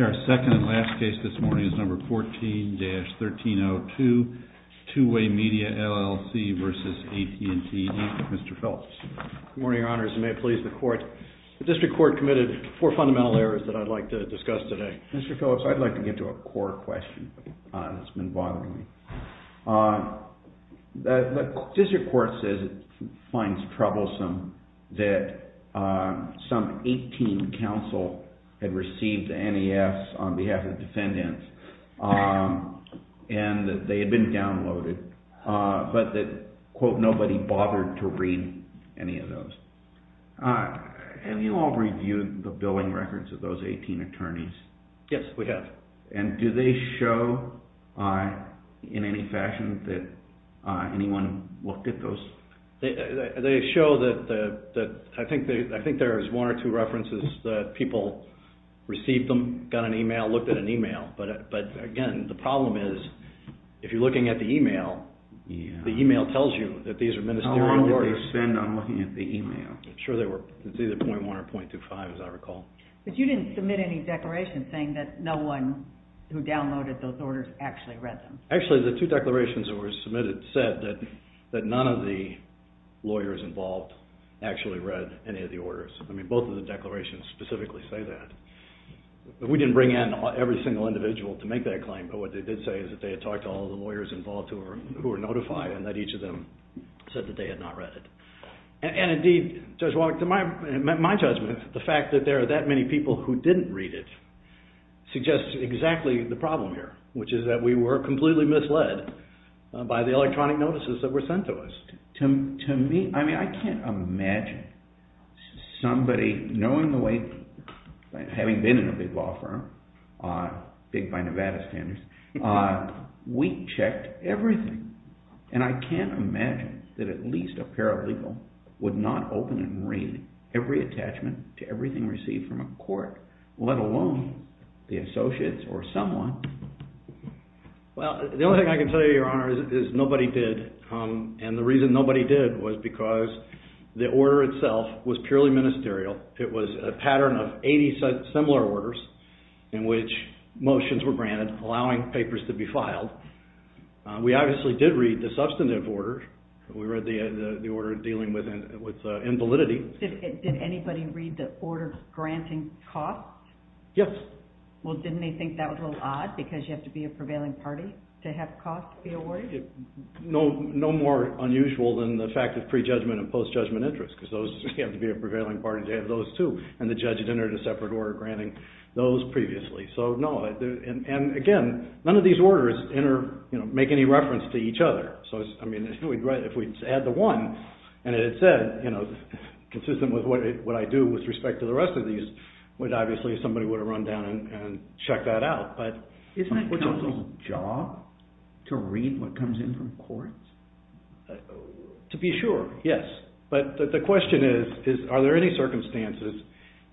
Our second and last case this morning is number 14-1302, Two-Way Media, LLC versus AT&T, Mr. Phillips. Good morning, your honors. You may please the court. The district court committed four fundamental errors that I'd like to discuss today. Mr. Phillips, I'd like to get to a court question that's been bothering me. The district court says it finds troublesome that some 18 counsel had received NEFs on behalf of defendants, and that they had been downloaded, but that, quote, nobody bothered to read any of those. Have you all reviewed the billing records of those 18 attorneys? Yes, we have. And do they show in any fashion that anyone looked at those? They show that, I think there's one or two references that people received them, got an email, looked at an email. But again, the problem is, if you're looking at the email, the email tells you that these are ministerial orders. How long did they spend on looking at the email? I'm sure they were, it's either .1 or .25, as I recall. But you didn't submit any declaration saying that no one who downloaded those orders actually read them. Actually, the two declarations that were submitted said that none of the lawyers involved actually read any of the orders. I mean, both of the declarations specifically say that. We didn't bring in every single individual to make that claim, but what they did say is that they had talked to all of the lawyers involved who were notified, and that each of them said that they had not read it. And indeed, Judge Wallach, to my judgment, the fact that there are that many people who didn't read it suggests exactly the problem here, which is that we were completely misled by the electronic notices that were sent to us. To me, I mean, I can't imagine somebody knowing the way, having been in a big law firm, big by Nevada standards, we checked everything. And I can't imagine that at least a paralegal would not open and read every attachment to everything received from a court, let alone the associates or someone. Well, the only thing I can tell you, Your Honor, is nobody did. And the reason nobody did was because the order itself was purely ministerial. It was a pattern of 80 similar orders in which motions were granted, allowing papers to be filed. We obviously did read the substantive order, and we read the order dealing with invalidity. Did anybody read the order granting costs? Yes. Well, didn't they think that was a little odd, because you have to be a prevailing party to have costs be awarded? No more unusual than the fact of pre-judgment and post-judgment interest, because you have to be a prevailing party to have those two, and the judge had entered a separate order granting those previously. And again, none of these orders make any reference to each other. So, I mean, if we had the one, and it said, you know, consistent with what I do with respect to the rest of these, obviously somebody would have run down and checked that out. Isn't that counsel's job to read what comes in from courts? To be sure, yes. But the question is, are there any circumstances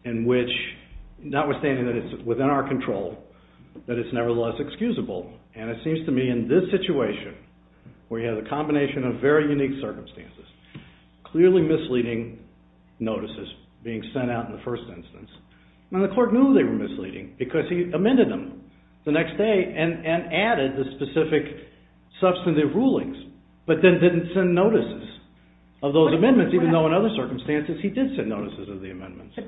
in which, notwithstanding that it's within our control, that it's nevertheless excusable? And it seems to me in this situation, where you have a combination of very unique circumstances, clearly misleading notices being sent out in the first instance. Now, the court knew they were misleading, because he amended them the next day and added the specific substantive rulings, but then didn't send notices of those amendments, even though in other circumstances he did send notices of the amendments. But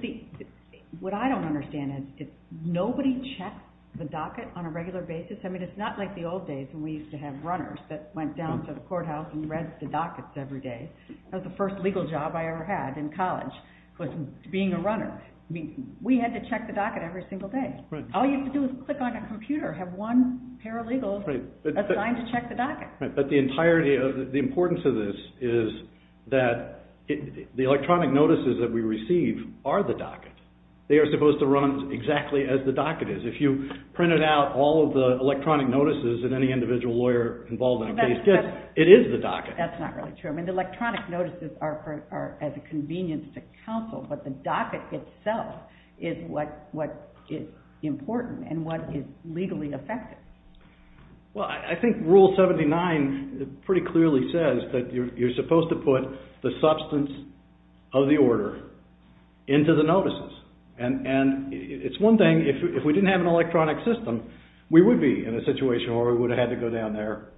what I don't understand is, did nobody check the docket on a regular basis? I mean, it's not like the old days when we used to have runners that went down to the courthouse and read the dockets every day. That was the first legal job I ever had in college, was being a runner. I mean, we had to check the docket every single day. All you had to do was click on a computer, have one paralegal assigned to check the docket. But the importance of this is that the electronic notices that we receive are the docket. They are supposed to run exactly as the docket is. If you printed out all of the electronic notices of any individual lawyer involved in a case, it is the docket. That's not really true. I mean, the electronic notices are as a convenience to counsel, but the docket itself is what is important and what is legally effective. Well, I think Rule 79 pretty clearly says that you're supposed to put the substance of the order into the notices. And it's one thing, if we didn't have an electronic system, we would be in a situation where we would have had to go down there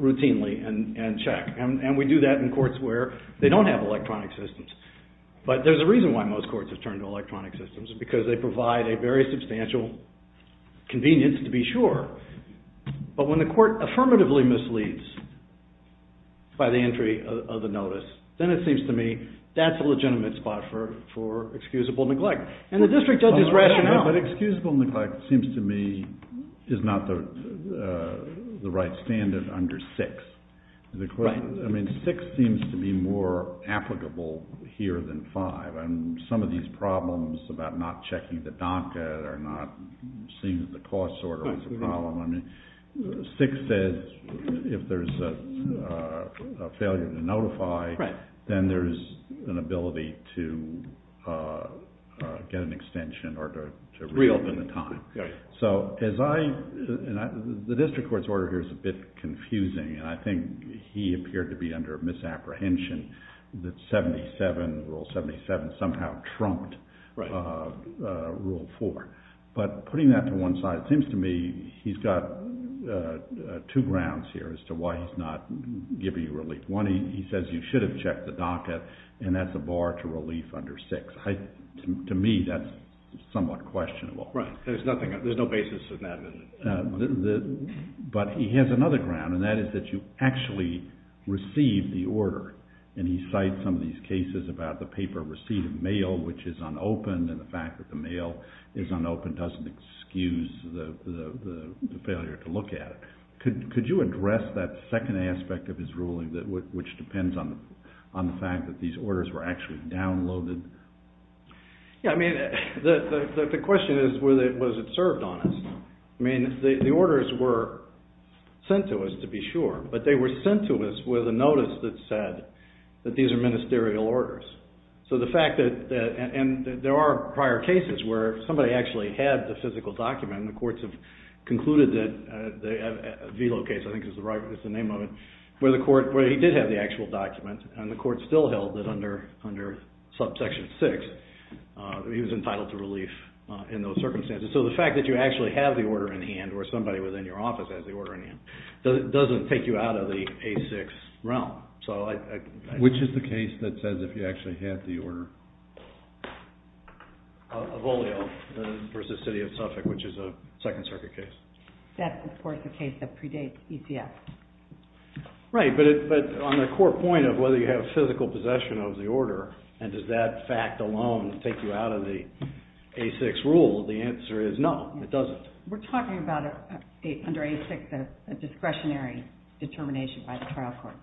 routinely and check. And we do that in courts where they don't have electronic systems. But there's a reason why most courts have turned to electronic systems, because they But when the court affirmatively misleads by the entry of the notice, then it seems to me that's a legitimate spot for excusable neglect. And the district does this rationale. But excusable neglect seems to me is not the right standard under 6. I mean, 6 seems to be more applicable here than 5. And some of these problems about not checking the docket or not seeing that the cost order was a problem. I mean, 6 says if there's a failure to notify, then there's an ability to get an extension or to reopen the time. Right. So the district court's order here is a bit confusing. And I think he appeared to be under misapprehension that Rule 77 somehow trumped Rule 4. But putting that to one side, it seems to me he's got two grounds here as to why he's not giving you relief. One, he says you should have checked the docket. And that's a bar to relief under 6. To me, that's somewhat questionable. Right. There's no basis in that. But he has another ground. And that is that you actually received the order. And he cites some of these cases about the paper receipt of mail, which is unopened. And the fact that the mail is unopened doesn't excuse the failure to look at it. Could you address that second aspect of his ruling, which depends on the fact that these orders were actually downloaded? Yeah. I mean, the question is, was it served on us? I mean, the orders were sent to us, to be sure. But they were sent to us with a notice that said that these are ministerial orders. So the fact that there are prior cases where somebody actually had the physical document. And the courts have concluded that the Vilo case, I think is the name of it, where he did have the actual document. And the court still held that under subsection 6, he was entitled to relief in those circumstances. So the fact that you actually have the order in hand, or somebody within your office has the order in hand, doesn't take you out of the A6 realm. Which is the case that says if you actually have the order? Avolio v. City of Suffolk, which is a Second Circuit case. That's, of course, the case that predates ECF. Right. But on the core point of whether you have physical possession of the order, and does that fact alone take you out of the A6 rule, the answer is no, it doesn't. We're talking about, under A6, a discretionary determination by the trial court.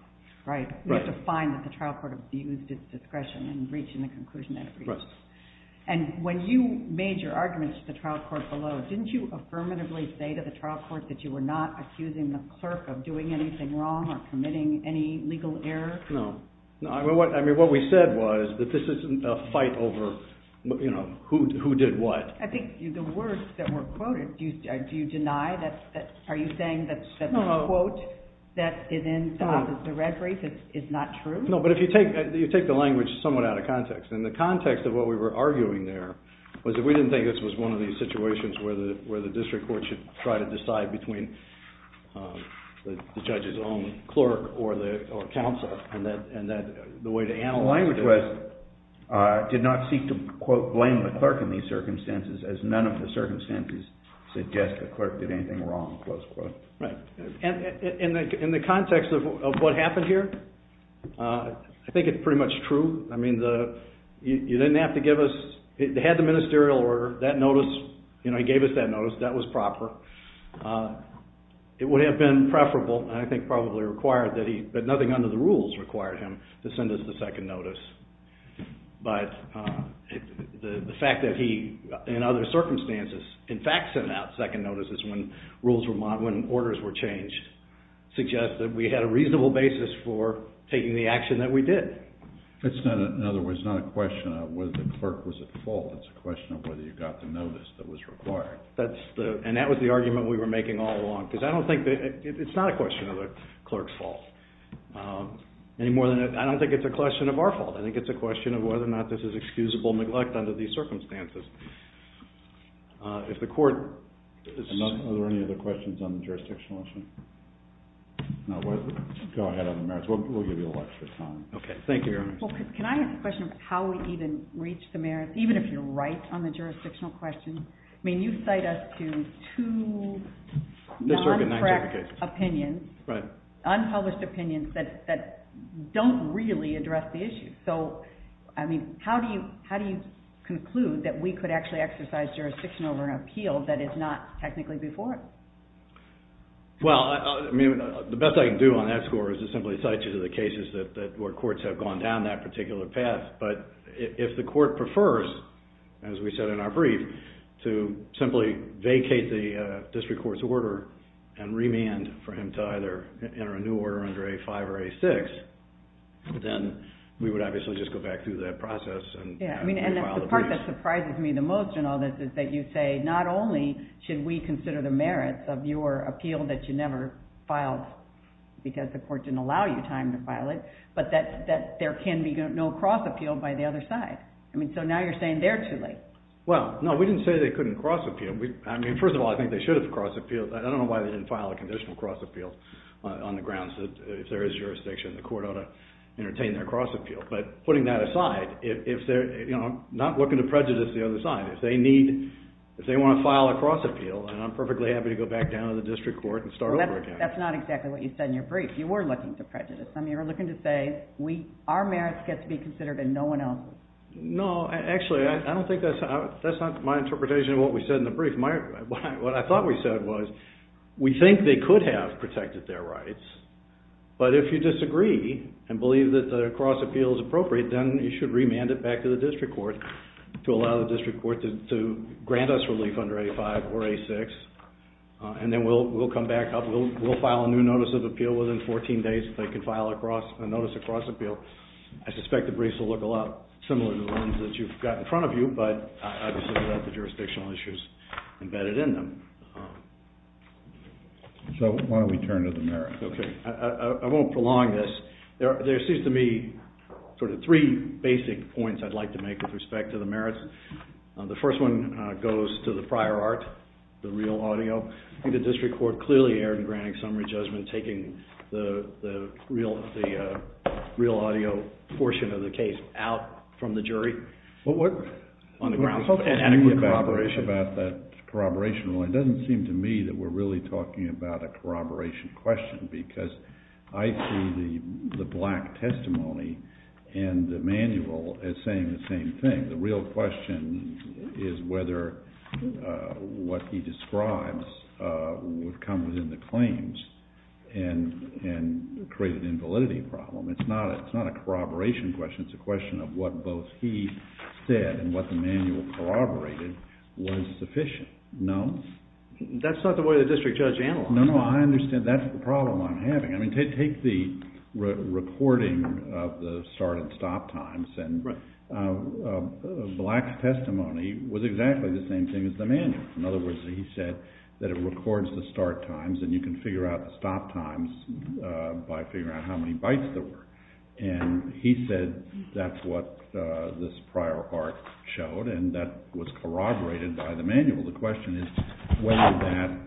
Right. We have to find that the trial court abused its discretion in reaching the conclusion that it reached. Right. And when you made your arguments to the trial court below, didn't you affirmatively say to the trial court that you were not accusing the clerk of doing anything wrong or committing any legal error? No. I mean, what we said was that this isn't a fight over who did what. I think the words that were quoted, do you deny that? Are you saying that the quote that is in the red brief is not true? No, but if you take the language somewhat out of context. And the context of what we were arguing there was that we didn't think this was one of these where you try to decide between the judge's own clerk or counsel, and that the way to analyze it is... The language was, did not seek to, quote, blame the clerk in these circumstances, as none of the circumstances suggest the clerk did anything wrong, close quote. Right. And in the context of what happened here, I think it's pretty much true. I mean, you didn't have to give us... They had the ministerial order, that notice, you know, he gave us that notice. That was proper. It would have been preferable, and I think probably required that he... But nothing under the rules required him to send us the second notice. But the fact that he, in other circumstances, in fact sent out second notices when rules were mod... When orders were changed, suggests that we had a reasonable basis for taking the action that we did. Okay. It's not, in other words, not a question of whether the clerk was at fault. It's a question of whether you got the notice that was required. That's the... And that was the argument we were making all along. Because I don't think that... It's not a question of the clerk's fault, any more than... I don't think it's a question of our fault. I think it's a question of whether or not this is excusable neglect under these circumstances. If the court... Are there any other questions on the jurisdictional issue? No. Go ahead on the merits. We'll give you a lot of time. Okay. Thank you very much. Well, can I ask a question of how we even reach the merits, even if you're right on the jurisdictional question? I mean, you cite us to two non-correct opinions. Right. Unpublished opinions that don't really address the issue. So, I mean, how do you conclude that we could actually exercise jurisdiction over an appeal that is not technically before us? Well, I mean, the best I can do on that score is to simply cite you to the cases that were courts have gone down that particular path. But if the court prefers, as we said in our brief, to simply vacate the district court's order and remand for him to either enter a new order under A5 or A6, then we would obviously just go back through that process and file the briefs. Yeah. I mean, and that's the part that surprises me the most in all this is that you say, not only should we consider the merits of your appeal that you never filed because the court didn't allow you time to file it, but that there can be no cross-appeal by the other side. I mean, so now you're saying they're too late. Well, no, we didn't say they couldn't cross-appeal. I mean, first of all, I think they should have cross-appealed. I don't know why they didn't file a conditional cross-appeal on the grounds that if there is jurisdiction, the court ought to entertain their cross-appeal. But putting that aside, if they're not looking to prejudice the other side, if they need, if they want to file a cross-appeal, then I'm perfectly happy to go back down to the district court and start over again. But that's not exactly what you said in your brief. You were looking to prejudice. I mean, you were looking to say our merits get to be considered and no one else's. No, actually, I don't think that's, that's not my interpretation of what we said in the brief. What I thought we said was we think they could have protected their rights, but if you disagree and believe that the cross-appeal is appropriate, then you should remand it back to the district court to allow the district court to grant us relief under A5 or A6, and then we'll come back up. We'll file a new notice of appeal within 14 days if they can file a notice of cross-appeal. I suspect the briefs will look a lot similar to the ones that you've got in front of you, but obviously without the jurisdictional issues embedded in them. So why don't we turn to the merits? Okay. I won't prolong this. There seems to me sort of three basic points I'd like to make with respect to the merits. The first one goes to the prior art, the real audio. I think the district court clearly erred in granting summary judgment, taking the real audio portion of the case out from the jury on the grounds of inadequate corroboration. Well, it doesn't seem to me that we're really talking about a corroboration question because I see the black testimony and the manual as saying the same thing. The real question is whether what he describes would come within the claims and create an invalidity problem. It's not a corroboration question. It's a question of what both he said and what the manual corroborated was sufficient. No? That's not the way the district judge analyzed it. No, no. I understand. That's the problem I'm having. I mean, take the recording of the start and stop times and black testimony was exactly the same thing as the manual. In other words, he said that it records the start times and you can figure out the stop times by figuring out how many bytes there were. And he said that's what this prior art showed and that was corroborated by the manual. The question is whether that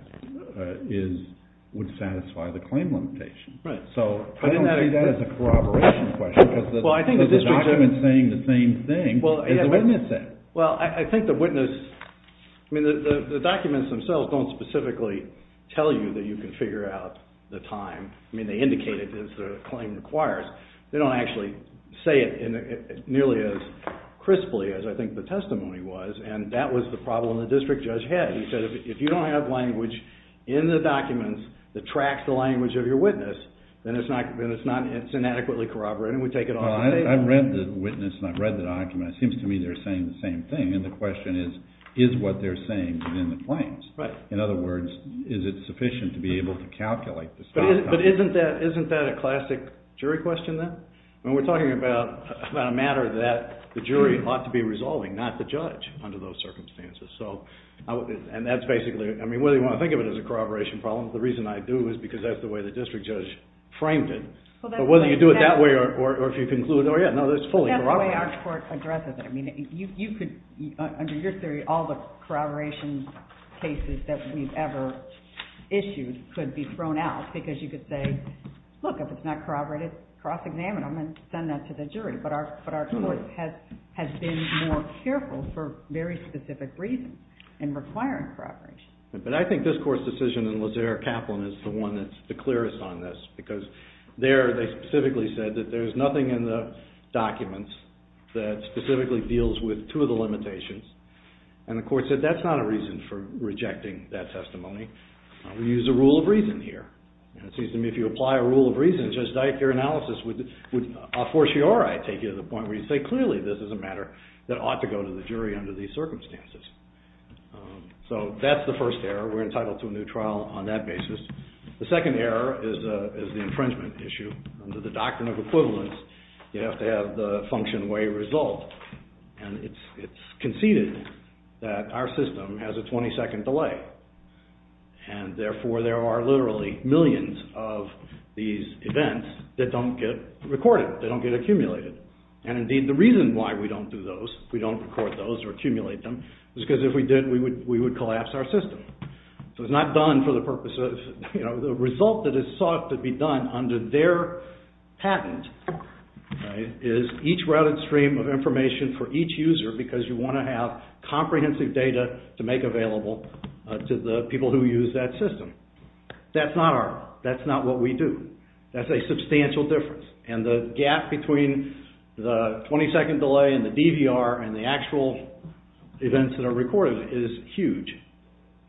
would satisfy the claim limitation. Right. So, I don't see that as a corroboration question because the document is saying the same thing as the witness said. Well, I think the witness, I mean, the documents themselves don't specifically tell you that you can figure out the time. I mean, they indicate it as the claim requires. They don't actually say it nearly as crisply as I think the testimony was and that was the problem the district judge had. He said if you don't have language in the documents that tracks the language of your witness, then it's not, it's inadequately corroborated. We take it off the paper. Well, I've read the witness and I've read the document. It seems to me they're saying the same thing and the question is, is what they're saying within the claims? Right. In other words, is it sufficient to be able to calculate the stop times? But isn't that a classic jury question then? When we're talking about a matter that the jury ought to be resolving, not the judge under those circumstances. So, and that's basically, I mean, whether you want to think of it as a corroboration problem, the reason I do is because that's the way the district judge framed it. But whether you do it that way or if you conclude, oh yeah, no, it's fully corroborated. That's the way our court addresses it. I mean, you could, under your theory, all the corroboration cases that we've ever issued could be thrown out because you could say, look, if it's not corroborated, cross-examine them and send that to the jury. But our court has been more careful for very specific reasons in requiring corroboration. But I think this court's decision in Lazare-Kaplan is the one that's the clearest on this because there they specifically said that there's nothing in the documents that specifically deals with two of the limitations. And the court said that's not a reason for rejecting that testimony. We use a rule of reason here. And it seems to me if you apply a rule of reason, just like your analysis would a fortiori take you to the point where you say clearly this is a matter that ought to go to the jury under these circumstances. So that's the first error. We're entitled to a new trial on that basis. The second error is the infringement issue. Under the doctrine of equivalence, you have to have the function way result. And it's conceded that our system has a 20-second delay. And therefore, there are literally millions of these events that don't get recorded. They don't get accumulated. And indeed, the reason why we don't do those, we don't record those or accumulate them, is because if we did, we would collapse our system. So it's not done for the purpose of, you know, the result that is sought to be done under their patent is each routed stream of information for each user because you want to have comprehensive data to make available to the people who use that system. That's not our, that's not what we do. That's a substantial difference. And the gap between the 20-second delay and the DVR and the actual events that are recorded is huge.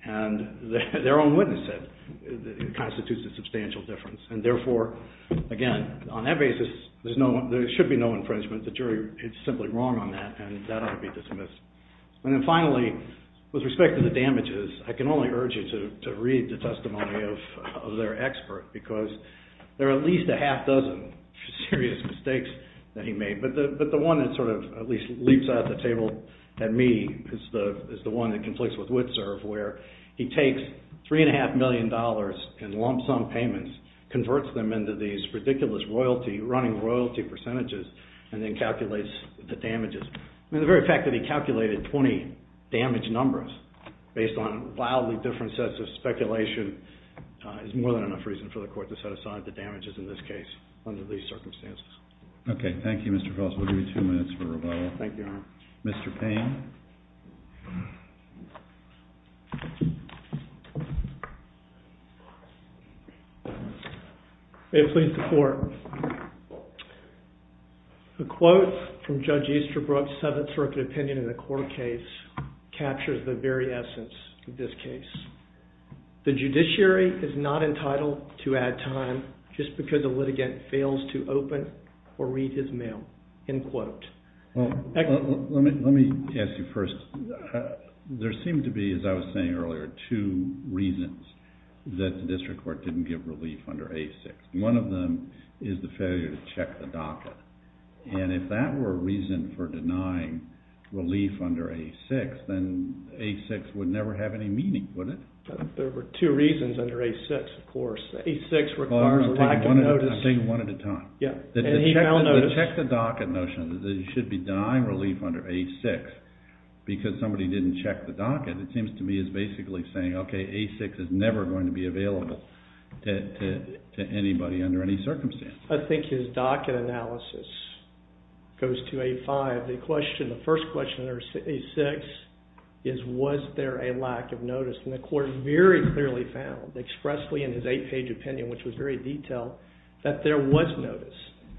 And their own witness said it constitutes a substantial difference. And therefore, again, on that basis, there should be no infringement. The jury is simply wrong on that and that ought to be dismissed. And then finally, with respect to the damages, I can only urge you to read the testimony of their expert because there are at least a half dozen serious mistakes that he made. But the one that sort of at least leaps out of the table at me is the one that conflicts with Witserv where he takes $3.5 million in lump sum payments, converts them into these and calculates the damages. The very fact that he calculated 20 damage numbers based on wildly different sets of speculation is more than enough reason for the court to set aside the damages in this case under these circumstances. Okay. Thank you, Mr. Feltz. We'll give you two minutes for rebuttal. Thank you, Your Honor. Mr. Payne. May it please the Court. The quote from Judge Easterbrook's Seventh Circuit opinion in the court case captures the very essence of this case. The judiciary is not entitled to add time just because the litigant fails to open or read his mail, end quote. Let me ask you first. There seemed to be, as I was saying earlier, two reasons that the district court didn't give relief under A6. One of them is the failure to check the docket. And if that were a reason for denying relief under A6, then A6 would never have any meaning, would it? There were two reasons under A6, of course. A6 requires a lack of notice. I'm taking one at a time. Yeah. And he now noticed. The check the docket notion that it should be denying relief under A6 because somebody didn't check the docket, it seems to me is basically saying, okay, A6 is never going to be available to anybody under any circumstances. I think his docket analysis goes to A5. The first question under A6 is, was there a lack of notice? And the court very clearly found expressly in his eight-page opinion, which was very detailed, that there was notice.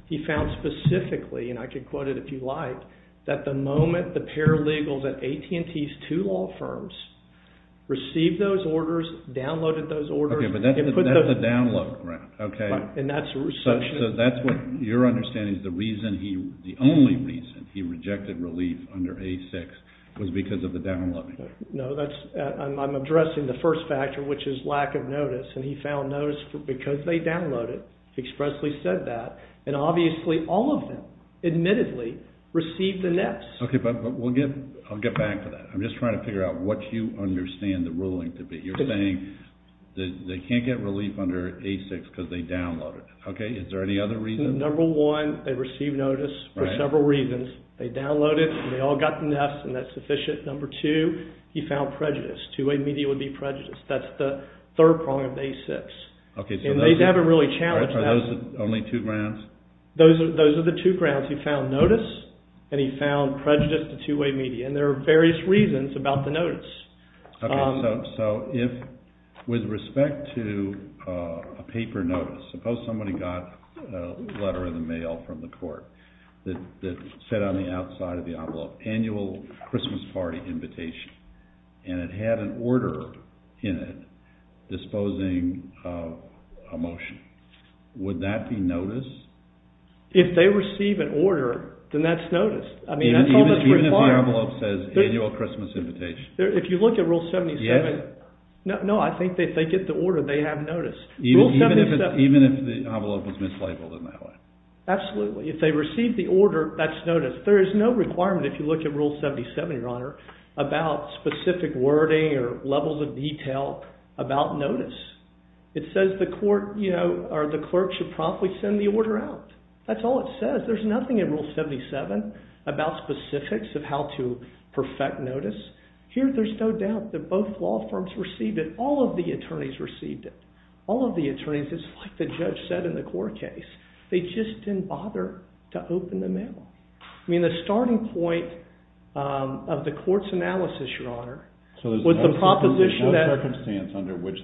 He found specifically, and I could quote it if you like, that the moment the paralegals at AT&T's two law firms received those orders, downloaded those orders. Okay. But that's a download, right? And that's a resumption. So that's what, your understanding is the reason he, the only reason he rejected relief under A6 was because of the downloading. No, that's, I'm addressing the first factor, which is lack of notice. And he found notice because they downloaded, expressly said that. And obviously all of them, admittedly, received the nets. Okay, but we'll get, I'll get back to that. I'm just trying to figure out what you understand the ruling to be. You're saying that they can't get relief under A6 because they downloaded it. Okay. Is there any other reason? Number one, they received notice for several reasons. They downloaded it and they all got the nets and that's sufficient. Number two, he found prejudice. Two-way media would be prejudice. That's the third prong of A6. Okay. And they haven't really challenged that. Are those the only two grounds? Those are the two grounds. He found notice and he found prejudice to two-way media. And there are various reasons about the notice. Okay, so if, with respect to a paper notice, suppose somebody got a letter in the mail from the court that said on the outside of the envelope, annual Christmas party invitation, and it had an order in it disposing of a motion. Would that be notice? If they receive an order, then that's notice. I mean, that's all that's required. Even if the envelope says annual Christmas invitation. If you look at Rule 77. Yes. No, I think if they get the order, they have notice. Even if the envelope was mislabeled in that way. Absolutely. If they receive the order, that's notice. There is no requirement, if you look at Rule 77, Your Honor, about specific wording or levels of detail about notice. It says the clerk should promptly send the order out. That's all it says. There's nothing in Rule 77 about specifics of how to perfect notice. Here, there's no doubt that both law firms received it. All of the attorneys received it. All of the attorneys. It's like the judge said in the court case. They just didn't bother to open the mail. I mean, the starting point of the court's analysis, Your Honor, was the proposition that...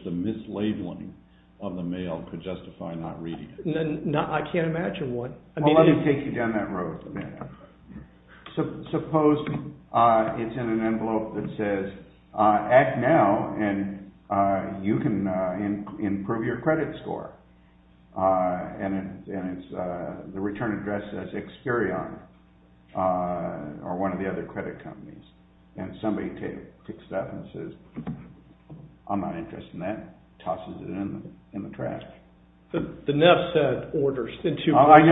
the labeling of the mail could justify not reading it. I can't imagine what... Well, let me take you down that road for a minute. Suppose it's in an envelope that says, Act now and you can improve your credit score. And the return address says Experian or one of the other credit companies. And somebody takes it up and says, I'm not interested in that. Tosses it in the trash. The Neff said orders. Subject line,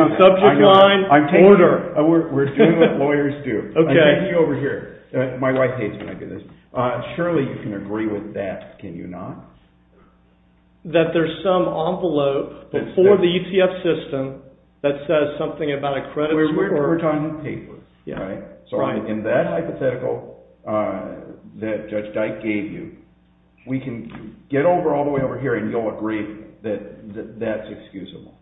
order. We're doing what lawyers do. I'll take you over here. My wife hates when I do this. Surely you can agree with that, can you not? That there's some envelope before the ETF system that says something about a credit score. We're talking paper, right? So in that hypothetical that Judge Dyke gave you, we can get over all the way over here and you'll agree that that's excusable.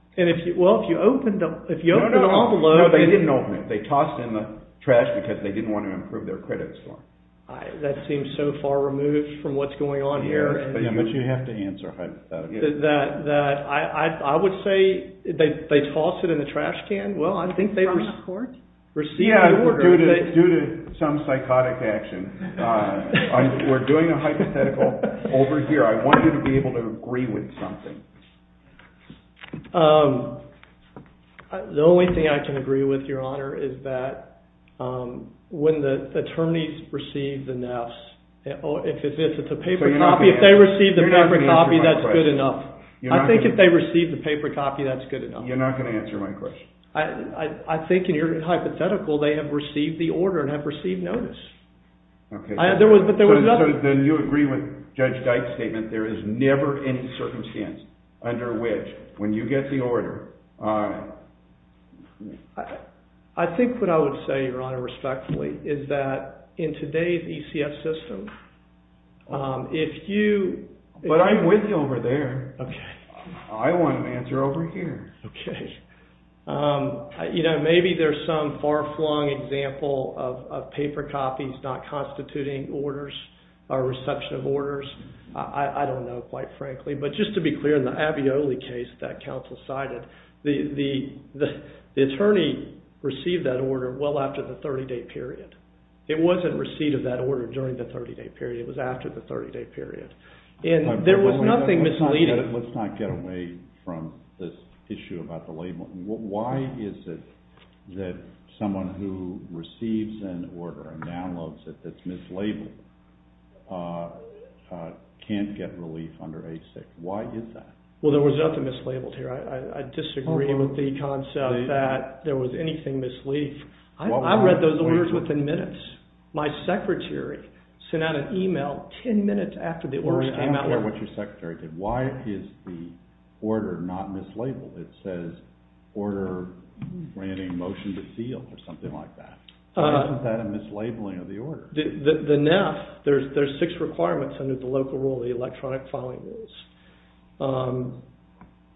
Well, if you open the envelope... No, they didn't open it. They tossed it in the trash because they didn't want to improve their credit score. That seems so far removed from what's going on here. Yeah, but you have to answer hypothetically. I would say they tossed it in the trash can. Yeah, due to some psychotic action. We're doing a hypothetical over here. I want you to be able to agree with something. The only thing I can agree with, Your Honor, is that when the attorneys receive the Neffs, if it's a paper copy, if they receive the paper copy, that's good enough. I think if they receive the paper copy, that's good enough. You're not going to answer my question. I think in your hypothetical, they have received the order and have received notice. Okay. Then you agree with Judge Dyke's statement there is never any circumstance under which when you get the order... I think what I would say, Your Honor, respectfully, is that in today's ECF system, if you... But I'm with you over there. I want an answer over here. Maybe there's some far-flung example of paper copies not constituting orders or reception of orders. I don't know, quite frankly, but just to be clear, in the Avioli case that counsel cited, the attorney received that order well after the 30-day period. It wasn't receipt of that order during the 30-day period. It was after the 30-day period. And there was nothing misleading. Let's not get away from this issue about the label. Why is it that someone who receives an order and downloads it that's mislabeled can't get relief under ASIC? Why is that? Well, there was nothing mislabeled here. I disagree with the concept that there was anything misleading. I read those orders within minutes. My secretary sent out an email about 10 minutes after the orders came out. Or after what your secretary did. Why is the order not mislabeled? It says, order granting motion to seal or something like that. Why isn't that a mislabeling of the order? The NAF, there's six requirements under the local rule, the electronic filing rules.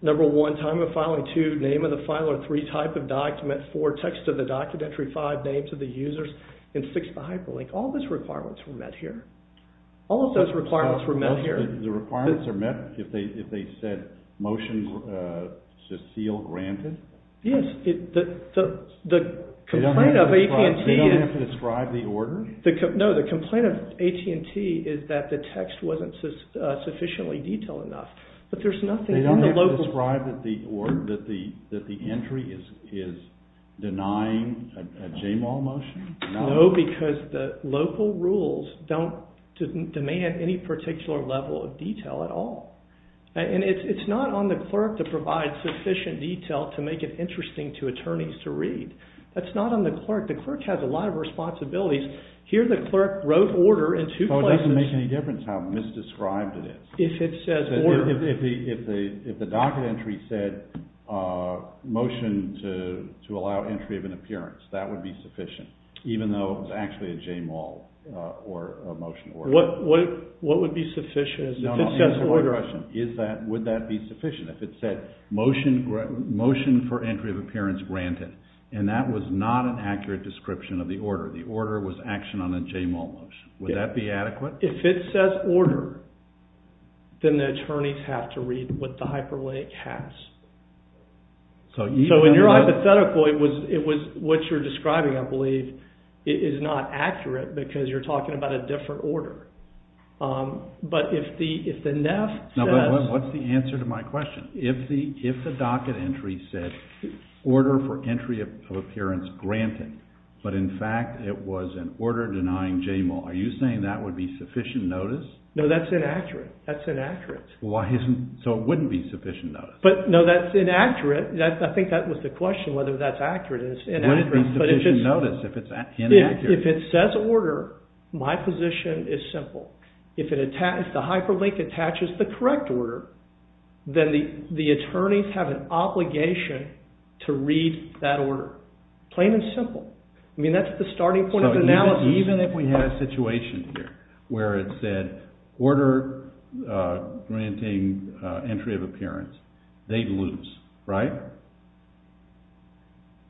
Number one, time of filing. Two, name of the filer. Three, type of document. Four, text of the document. Five, names of the users. And six, the hyperlink. All those requirements were met here. All of those requirements were met here. The requirements are met if they said, motion to seal granted? Yes, the complaint of AT&T is... They don't have to describe the order? No, the complaint of AT&T is that the text wasn't sufficiently detailed enough. But there's nothing in the local... They don't have to describe that the entry is denying a JMAL motion? No, because the local rules don't demand any particular level of detail at all. And it's not on the clerk to provide sufficient detail to make it interesting to attorneys to read. That's not on the clerk. The clerk has a lot of responsibilities. Here the clerk wrote order in two places... So it doesn't make any difference how misdescribed it is? If it says order... If the docket entry said, motion to allow entry of an appearance, that would be sufficient, even though it's actually a JMAL motion. What would be sufficient? Answer my question. Would that be sufficient if it said, motion for entry of appearance granted? And that was not an accurate description of the order. The order was action on a JMAL motion. Would that be adequate? If it says order, then the attorneys have to read what the hyperlink has. So in your hypothetical, it was what you're describing, I believe, is not accurate because you're talking about a different order. But if the NEF says... What's the answer to my question? If the docket entry said, order for entry of appearance granted, but in fact it was an order denying JMAL, are you saying that would be sufficient notice? No, that's inaccurate. That's inaccurate. So it wouldn't be sufficient notice? No, that's inaccurate. I think that was the question, whether that's accurate and it's inaccurate. It wouldn't be sufficient notice if it's inaccurate. If it says order, my position is simple. If the hyperlink attaches the correct order, then the attorneys have an obligation to read that order. Plain and simple. I mean, that's the starting point of analysis. So even if we had a situation here where it said order granting entry of appearance, they'd lose, right?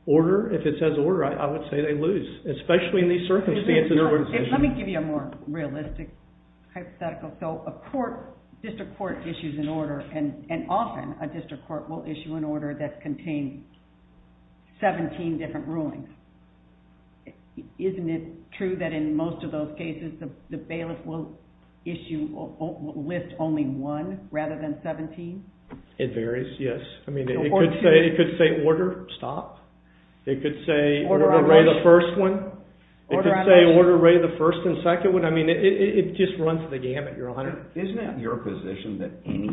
Order, if it says order, I would say they lose, especially in these circumstances. Let me give you a more realistic hypothetical. So a court, district court issues an order, and often a district court will issue an order that contains 17 different rulings. Isn't it true that in most of those cases the bailiff will list only one rather than 17? It varies, yes. It could say order, stop. It could say order of the first one. It could say order of the first and second one. I mean, it just runs the gamut, Your Honor. Isn't it your position that any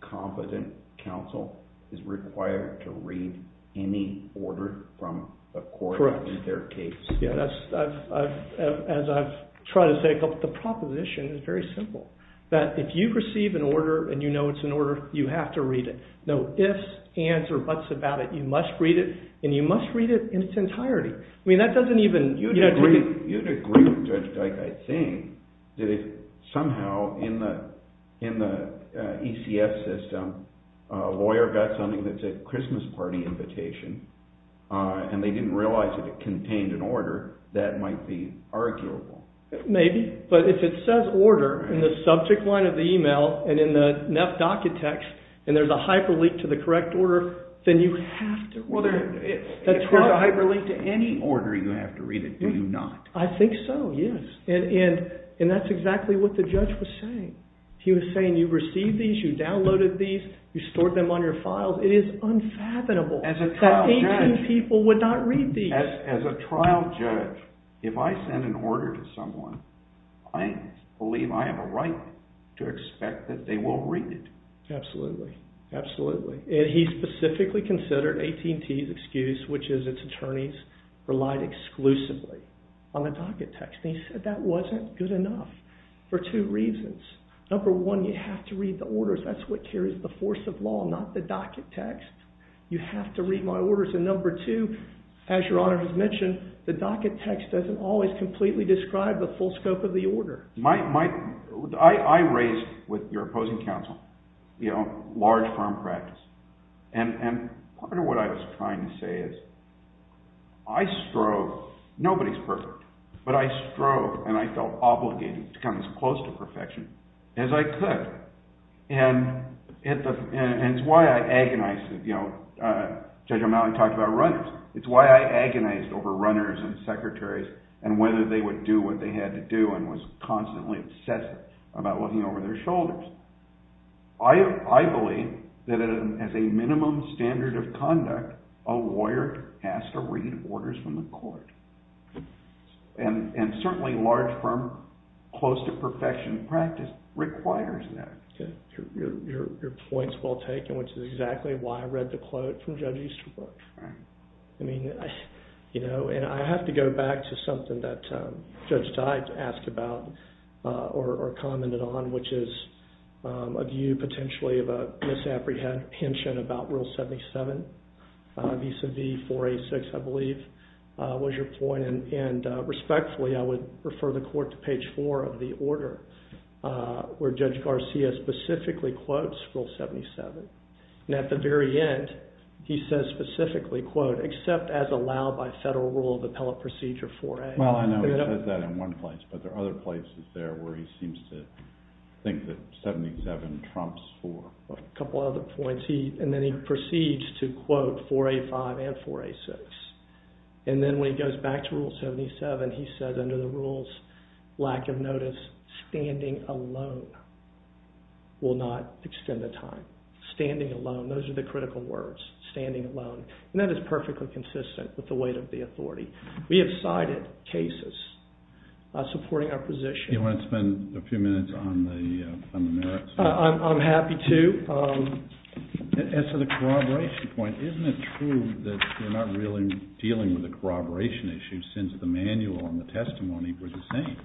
competent counsel is required to read any order from a court in their case? As I've tried to say, the proposition is very simple. That if you receive an order and you know it's an order, you have to read it. No ifs, ands, or buts about it. You must read it, and you must read it in its entirety. I mean, that doesn't even. You'd agree with Judge Dyke, I think, that if somehow in the ECF system, a lawyer got something that said Christmas party invitation, and they didn't realize that it contained an order, that might be arguable. Maybe. But if it says order in the subject line of the email and in the nef docket text, and there's a hyperlink to the correct order, then you have to read it. Well, if there's a hyperlink to any order, you have to read it, do you not? I think so, yes. And that's exactly what the judge was saying. He was saying, you received these, you downloaded these, you stored them on your files. It is unfathomable. As a trial judge. That 18 people would not read these. As a trial judge, if I send an order to someone, I believe I have a right to expect that they will read it. Absolutely. Absolutely. And he specifically considered AT&T's excuse, which is its attorneys relied exclusively on the docket text. And he said that wasn't good enough for two reasons. Number one, you have to read the orders. That's what carries the force of law, not the docket text. You have to read my orders. And number two, as Your Honor has mentioned, the docket text doesn't always completely describe the full scope of the order. I raised, with your opposing counsel, large firm practice. And part of what I was trying to say is, I strove. Nobody's perfect. But I strove, and I felt obligated to come as close to perfection as I could. And it's why I agonized. Judge O'Malley talked about runners. It's why I agonized over runners and secretaries and whether they would do what they had to do and was constantly obsessive about looking over their shoulders. I believe that as a minimum standard of conduct, a lawyer has to read orders from the court. And certainly large firm, close to perfection practice requires that. Your point's well taken, which is exactly why I read the quote from Judge Easterbrook. And I have to go back to something that Judge Dyke asked about or commented on, which is a view potentially of a misapprehension about Rule 77 vis-a-vis 486, I believe, was your point. And respectfully, I would refer the court to page four of the order, where Judge Garcia specifically quotes Rule 77. And at the very end, he says specifically, quote, except as allowed by federal rule of appellate procedure 4A. Well, I know he says that in one place, but there are other places there where he seems to think that 77 trumps 4. A couple other points. And then he proceeds to quote 4A5 and 4A6. And then when he goes back to Rule 77, he says under the rules, lack of notice, standing alone will not extend the time. Standing alone. Those are the critical words. Standing alone. And that is perfectly consistent with the weight of the authority. We have cited cases supporting our position. Do you want to spend a few minutes on the merits? I'm happy to. As to the corroboration point, isn't it true that you're not really dealing with the corroboration issue since the manual and the testimony were the same?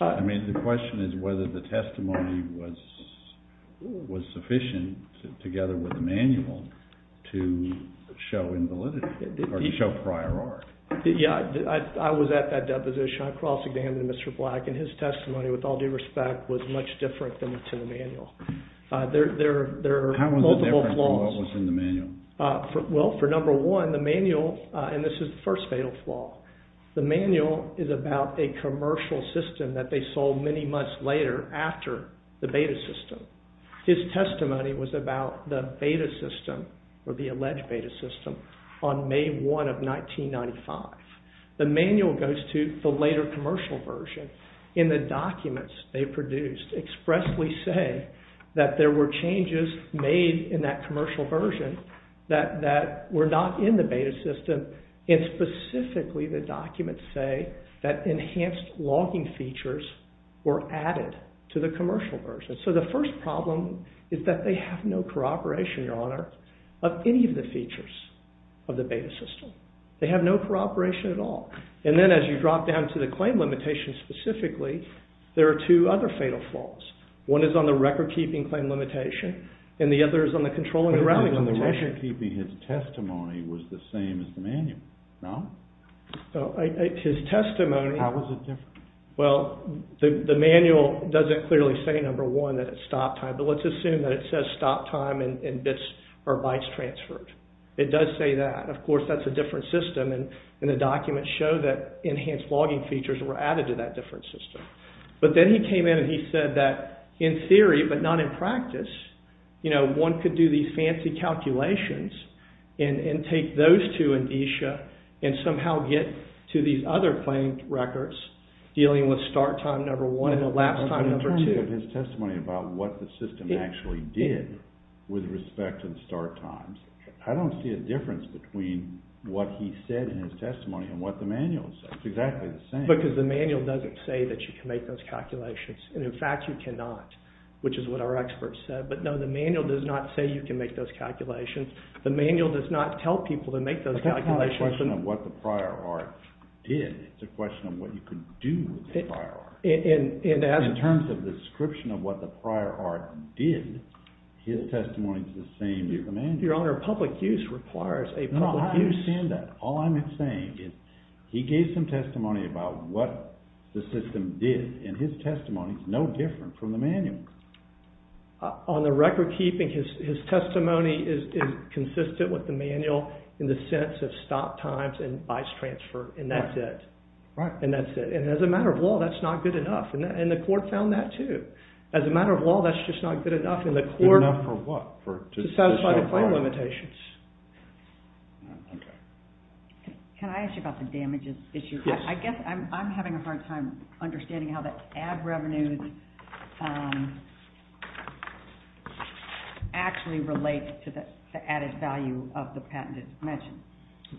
I mean, the question is whether the testimony was sufficient together with the manual to show invalidity or show prior art. Yeah, I was at that deposition. I cross-examined Mr. Black, and his testimony, with all due respect, was much different than to the manual. There are multiple flaws. How was it different from what was in the manual? Well, for number one, the manual, and this is the first fatal flaw, the manual is about a commercial system that they sold many months later after the beta system. His testimony was about the beta system, or the alleged beta system, on May 1 of 1995. The manual goes to the later commercial version. In the documents they produced expressly say that there were changes made in that commercial version that were not in the beta system. And specifically, the documents say that enhanced logging features were added to the commercial version. So the first problem is that they have no corroboration, Your Honor, of any of the features of the beta system. They have no corroboration at all. And then as you drop down to the claim limitations specifically, there are two other fatal flaws. One is on the record-keeping claim limitation, and the other is on the controlling and routing limitation. The record-keeping, his testimony, was the same as the manual, no? His testimony- How was it different? Well, the manual doesn't clearly say, number one, that it's stop time. But let's assume that it says stop time and bits or bytes transferred. It does say that. Of course, that's a different system. And the documents show that enhanced logging features were added to that different system. But then he came in and he said that in theory, but not in practice, one could do these fancy calculations and take those two in DESHA and somehow get to these other claim records dealing with start time, number one, and elapsed time, number two. But in terms of his testimony about what the system actually did with respect to the start times, I don't see a difference between what he said in his testimony and what the manual says. It's exactly the same. Because the manual doesn't say that you can make those calculations. And in fact, you cannot. Which is what our experts said. But no, the manual does not say you can make those calculations. The manual does not tell people to make those calculations. It's not a question of what the prior art did. It's a question of what you could do with the prior art. In terms of the description of what the prior art did, his testimony is the same as the manual. Your Honor, public use requires a public use. No, I understand that. All I'm saying is he gave some testimony about what the system did. And his testimony is no different from the manual. On the record keeping, his testimony is consistent with the manual in the sense of stop times and vice transfer. And that's it. Right. And that's it. And as a matter of law, that's not good enough. And the court found that too. As a matter of law, that's just not good enough. Good enough for what? To satisfy the claim limitations. Can I ask you about the damages issue? Yes. I guess I'm having a hard time understanding how the ad revenues actually relate to the added value of the patented mention.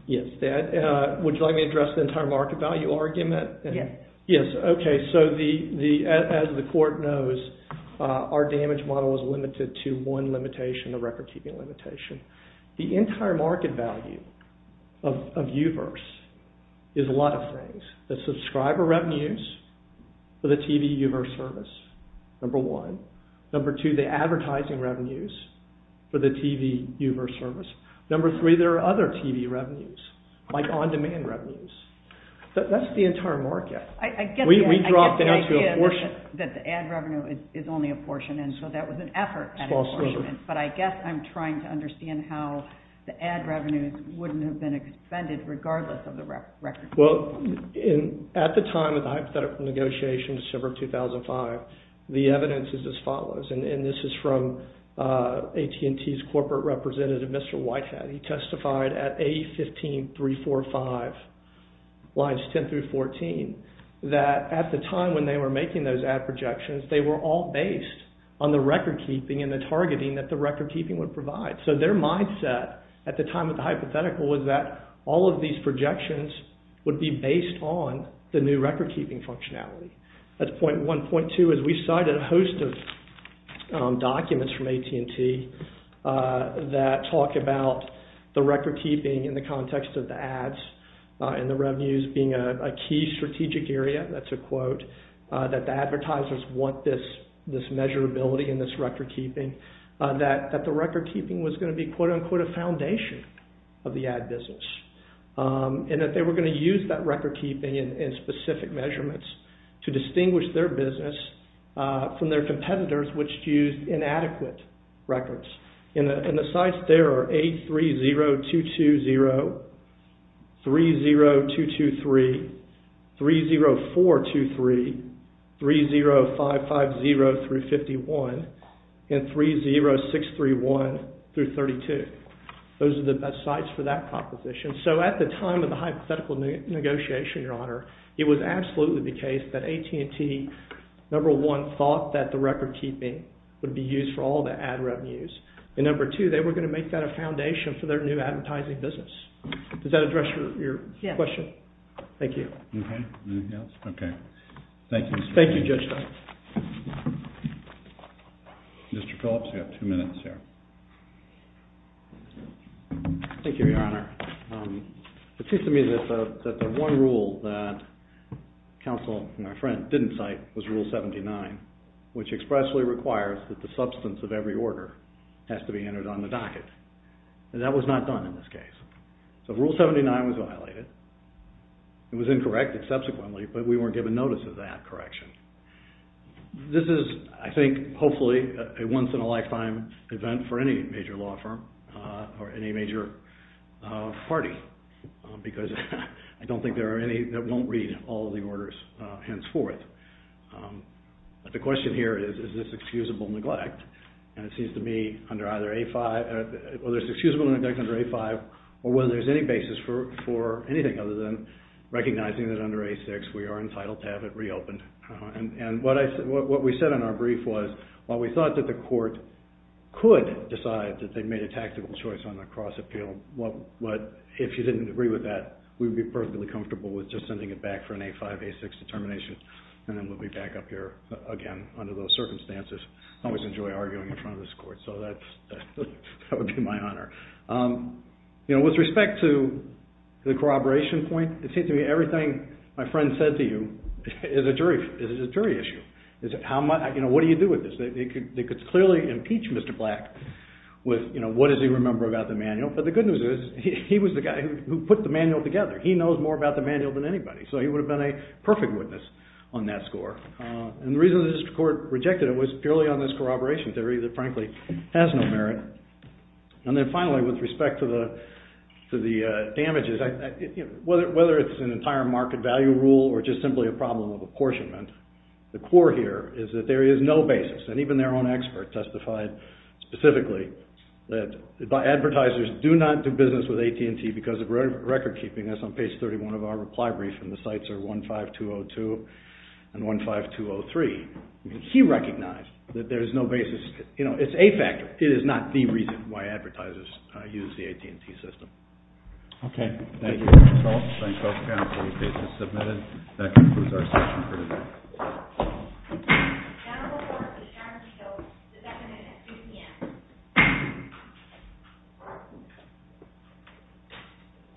Yes. Would you like me to address the entire market value argument? Yes. OK. So as the court knows, our damage model is limited to one limitation, the record keeping limitation. The entire market value of U-verse is a lot of things. The subscriber revenues for the TV U-verse service, number one. Number two, the advertising revenues for the TV U-verse service. Number three, there are other TV revenues, like on-demand revenues. That's the entire market. I get that. We dropped down to a portion. I get that the ad revenue is only a portion. And so that was an effort at a portion. But I guess I'm trying to understand how the ad revenues wouldn't have been expended regardless of the record keeping. Well, at the time of the hypothetical negotiation, December 2005, the evidence is as follows. And this is from AT&T's corporate representative, Mr. Whitehead. He testified at A-15-345, lines 10 through 14, that at the time when they were making those ad projections, they were all based on the record keeping and the targeting that the record keeping would provide. So their mindset at the time of the hypothetical was that all of these projections would be based on the new record keeping functionality. That's point one. Point two is we cited a host of documents from AT&T that talk about the record keeping in the context of the ads and the revenues being a key strategic area. That's a quote. That the advertisers want this measurability and this record keeping. That the record keeping was going to be, quote unquote, a foundation of the ad business. And that they were going to use that record keeping in specific measurements to distinguish their business from their competitors which used inadequate records. And the sites there are 830220, 30223, 30423, 30550 through 51, and 30631 through 32. Those are the best sites for that proposition. So at the time of the hypothetical negotiation, your honor, it was absolutely the case that AT&T, number one, thought that the record keeping would be used for all the ad revenues. And number two, they were going to make that a foundation for their new advertising business. Does that address your question? Yes. Thank you. Anything else? OK. Thank you. Thank you, Judge Stein. Mr. Phillips, you have two minutes here. Thank you, your honor. It seems to me that the one rule that counsel and my friend didn't cite was rule 79, which expressly requires that the substance of every order has to be entered on the docket. And that was not done in this case. So rule 79 was violated. It was incorrected subsequently, but we weren't given notice of that correction. This is, I think, hopefully a once in a lifetime event for any major law firm or any major party because I don't think there are any that won't read all the orders henceforth. But the question here is, is this excusable neglect? And it seems to me under either A5, whether it's excusable neglect under A5 or whether there's any basis for anything other than recognizing that under A6 we are entitled to have it reopened. And what we said in our brief was while we thought that the court could decide that they made a tactical choice on the cross appeal, if you didn't agree with that, we would be perfectly comfortable with just sending it back for an A5, A6 determination. And then we'll be back up here again under those circumstances. I always enjoy arguing in front of this court. So that would be my honor. With respect to the corroboration point, it seems to me everything my friend said to you is a jury issue. What do you do with this? They could clearly impeach Mr. Black with what does he remember about the manual. But the good news is he was the guy who put the manual together. He knows more about the manual than anybody. So he would have been a perfect witness on that score. And the reason this court rejected it was purely on this corroboration theory that, frankly, has no merit. And then finally, with respect to the damages, whether it's an entire market value rule or just simply a problem of apportionment, the core here is that there is no basis. And even their own expert testified specifically that advertisers do not do business with AT&T because of record keeping. That's on page 31 of our reply brief. And the sites are 15202 and 15203. He recognized that there is no basis. It's a fact. It is not the reason why advertisers use the AT&T system. OK. Thank you, counsel. Thank both counsel. The case is submitted. That concludes our session for today. Thank you. Now, the floor is yours. So is that minute at 3 PM?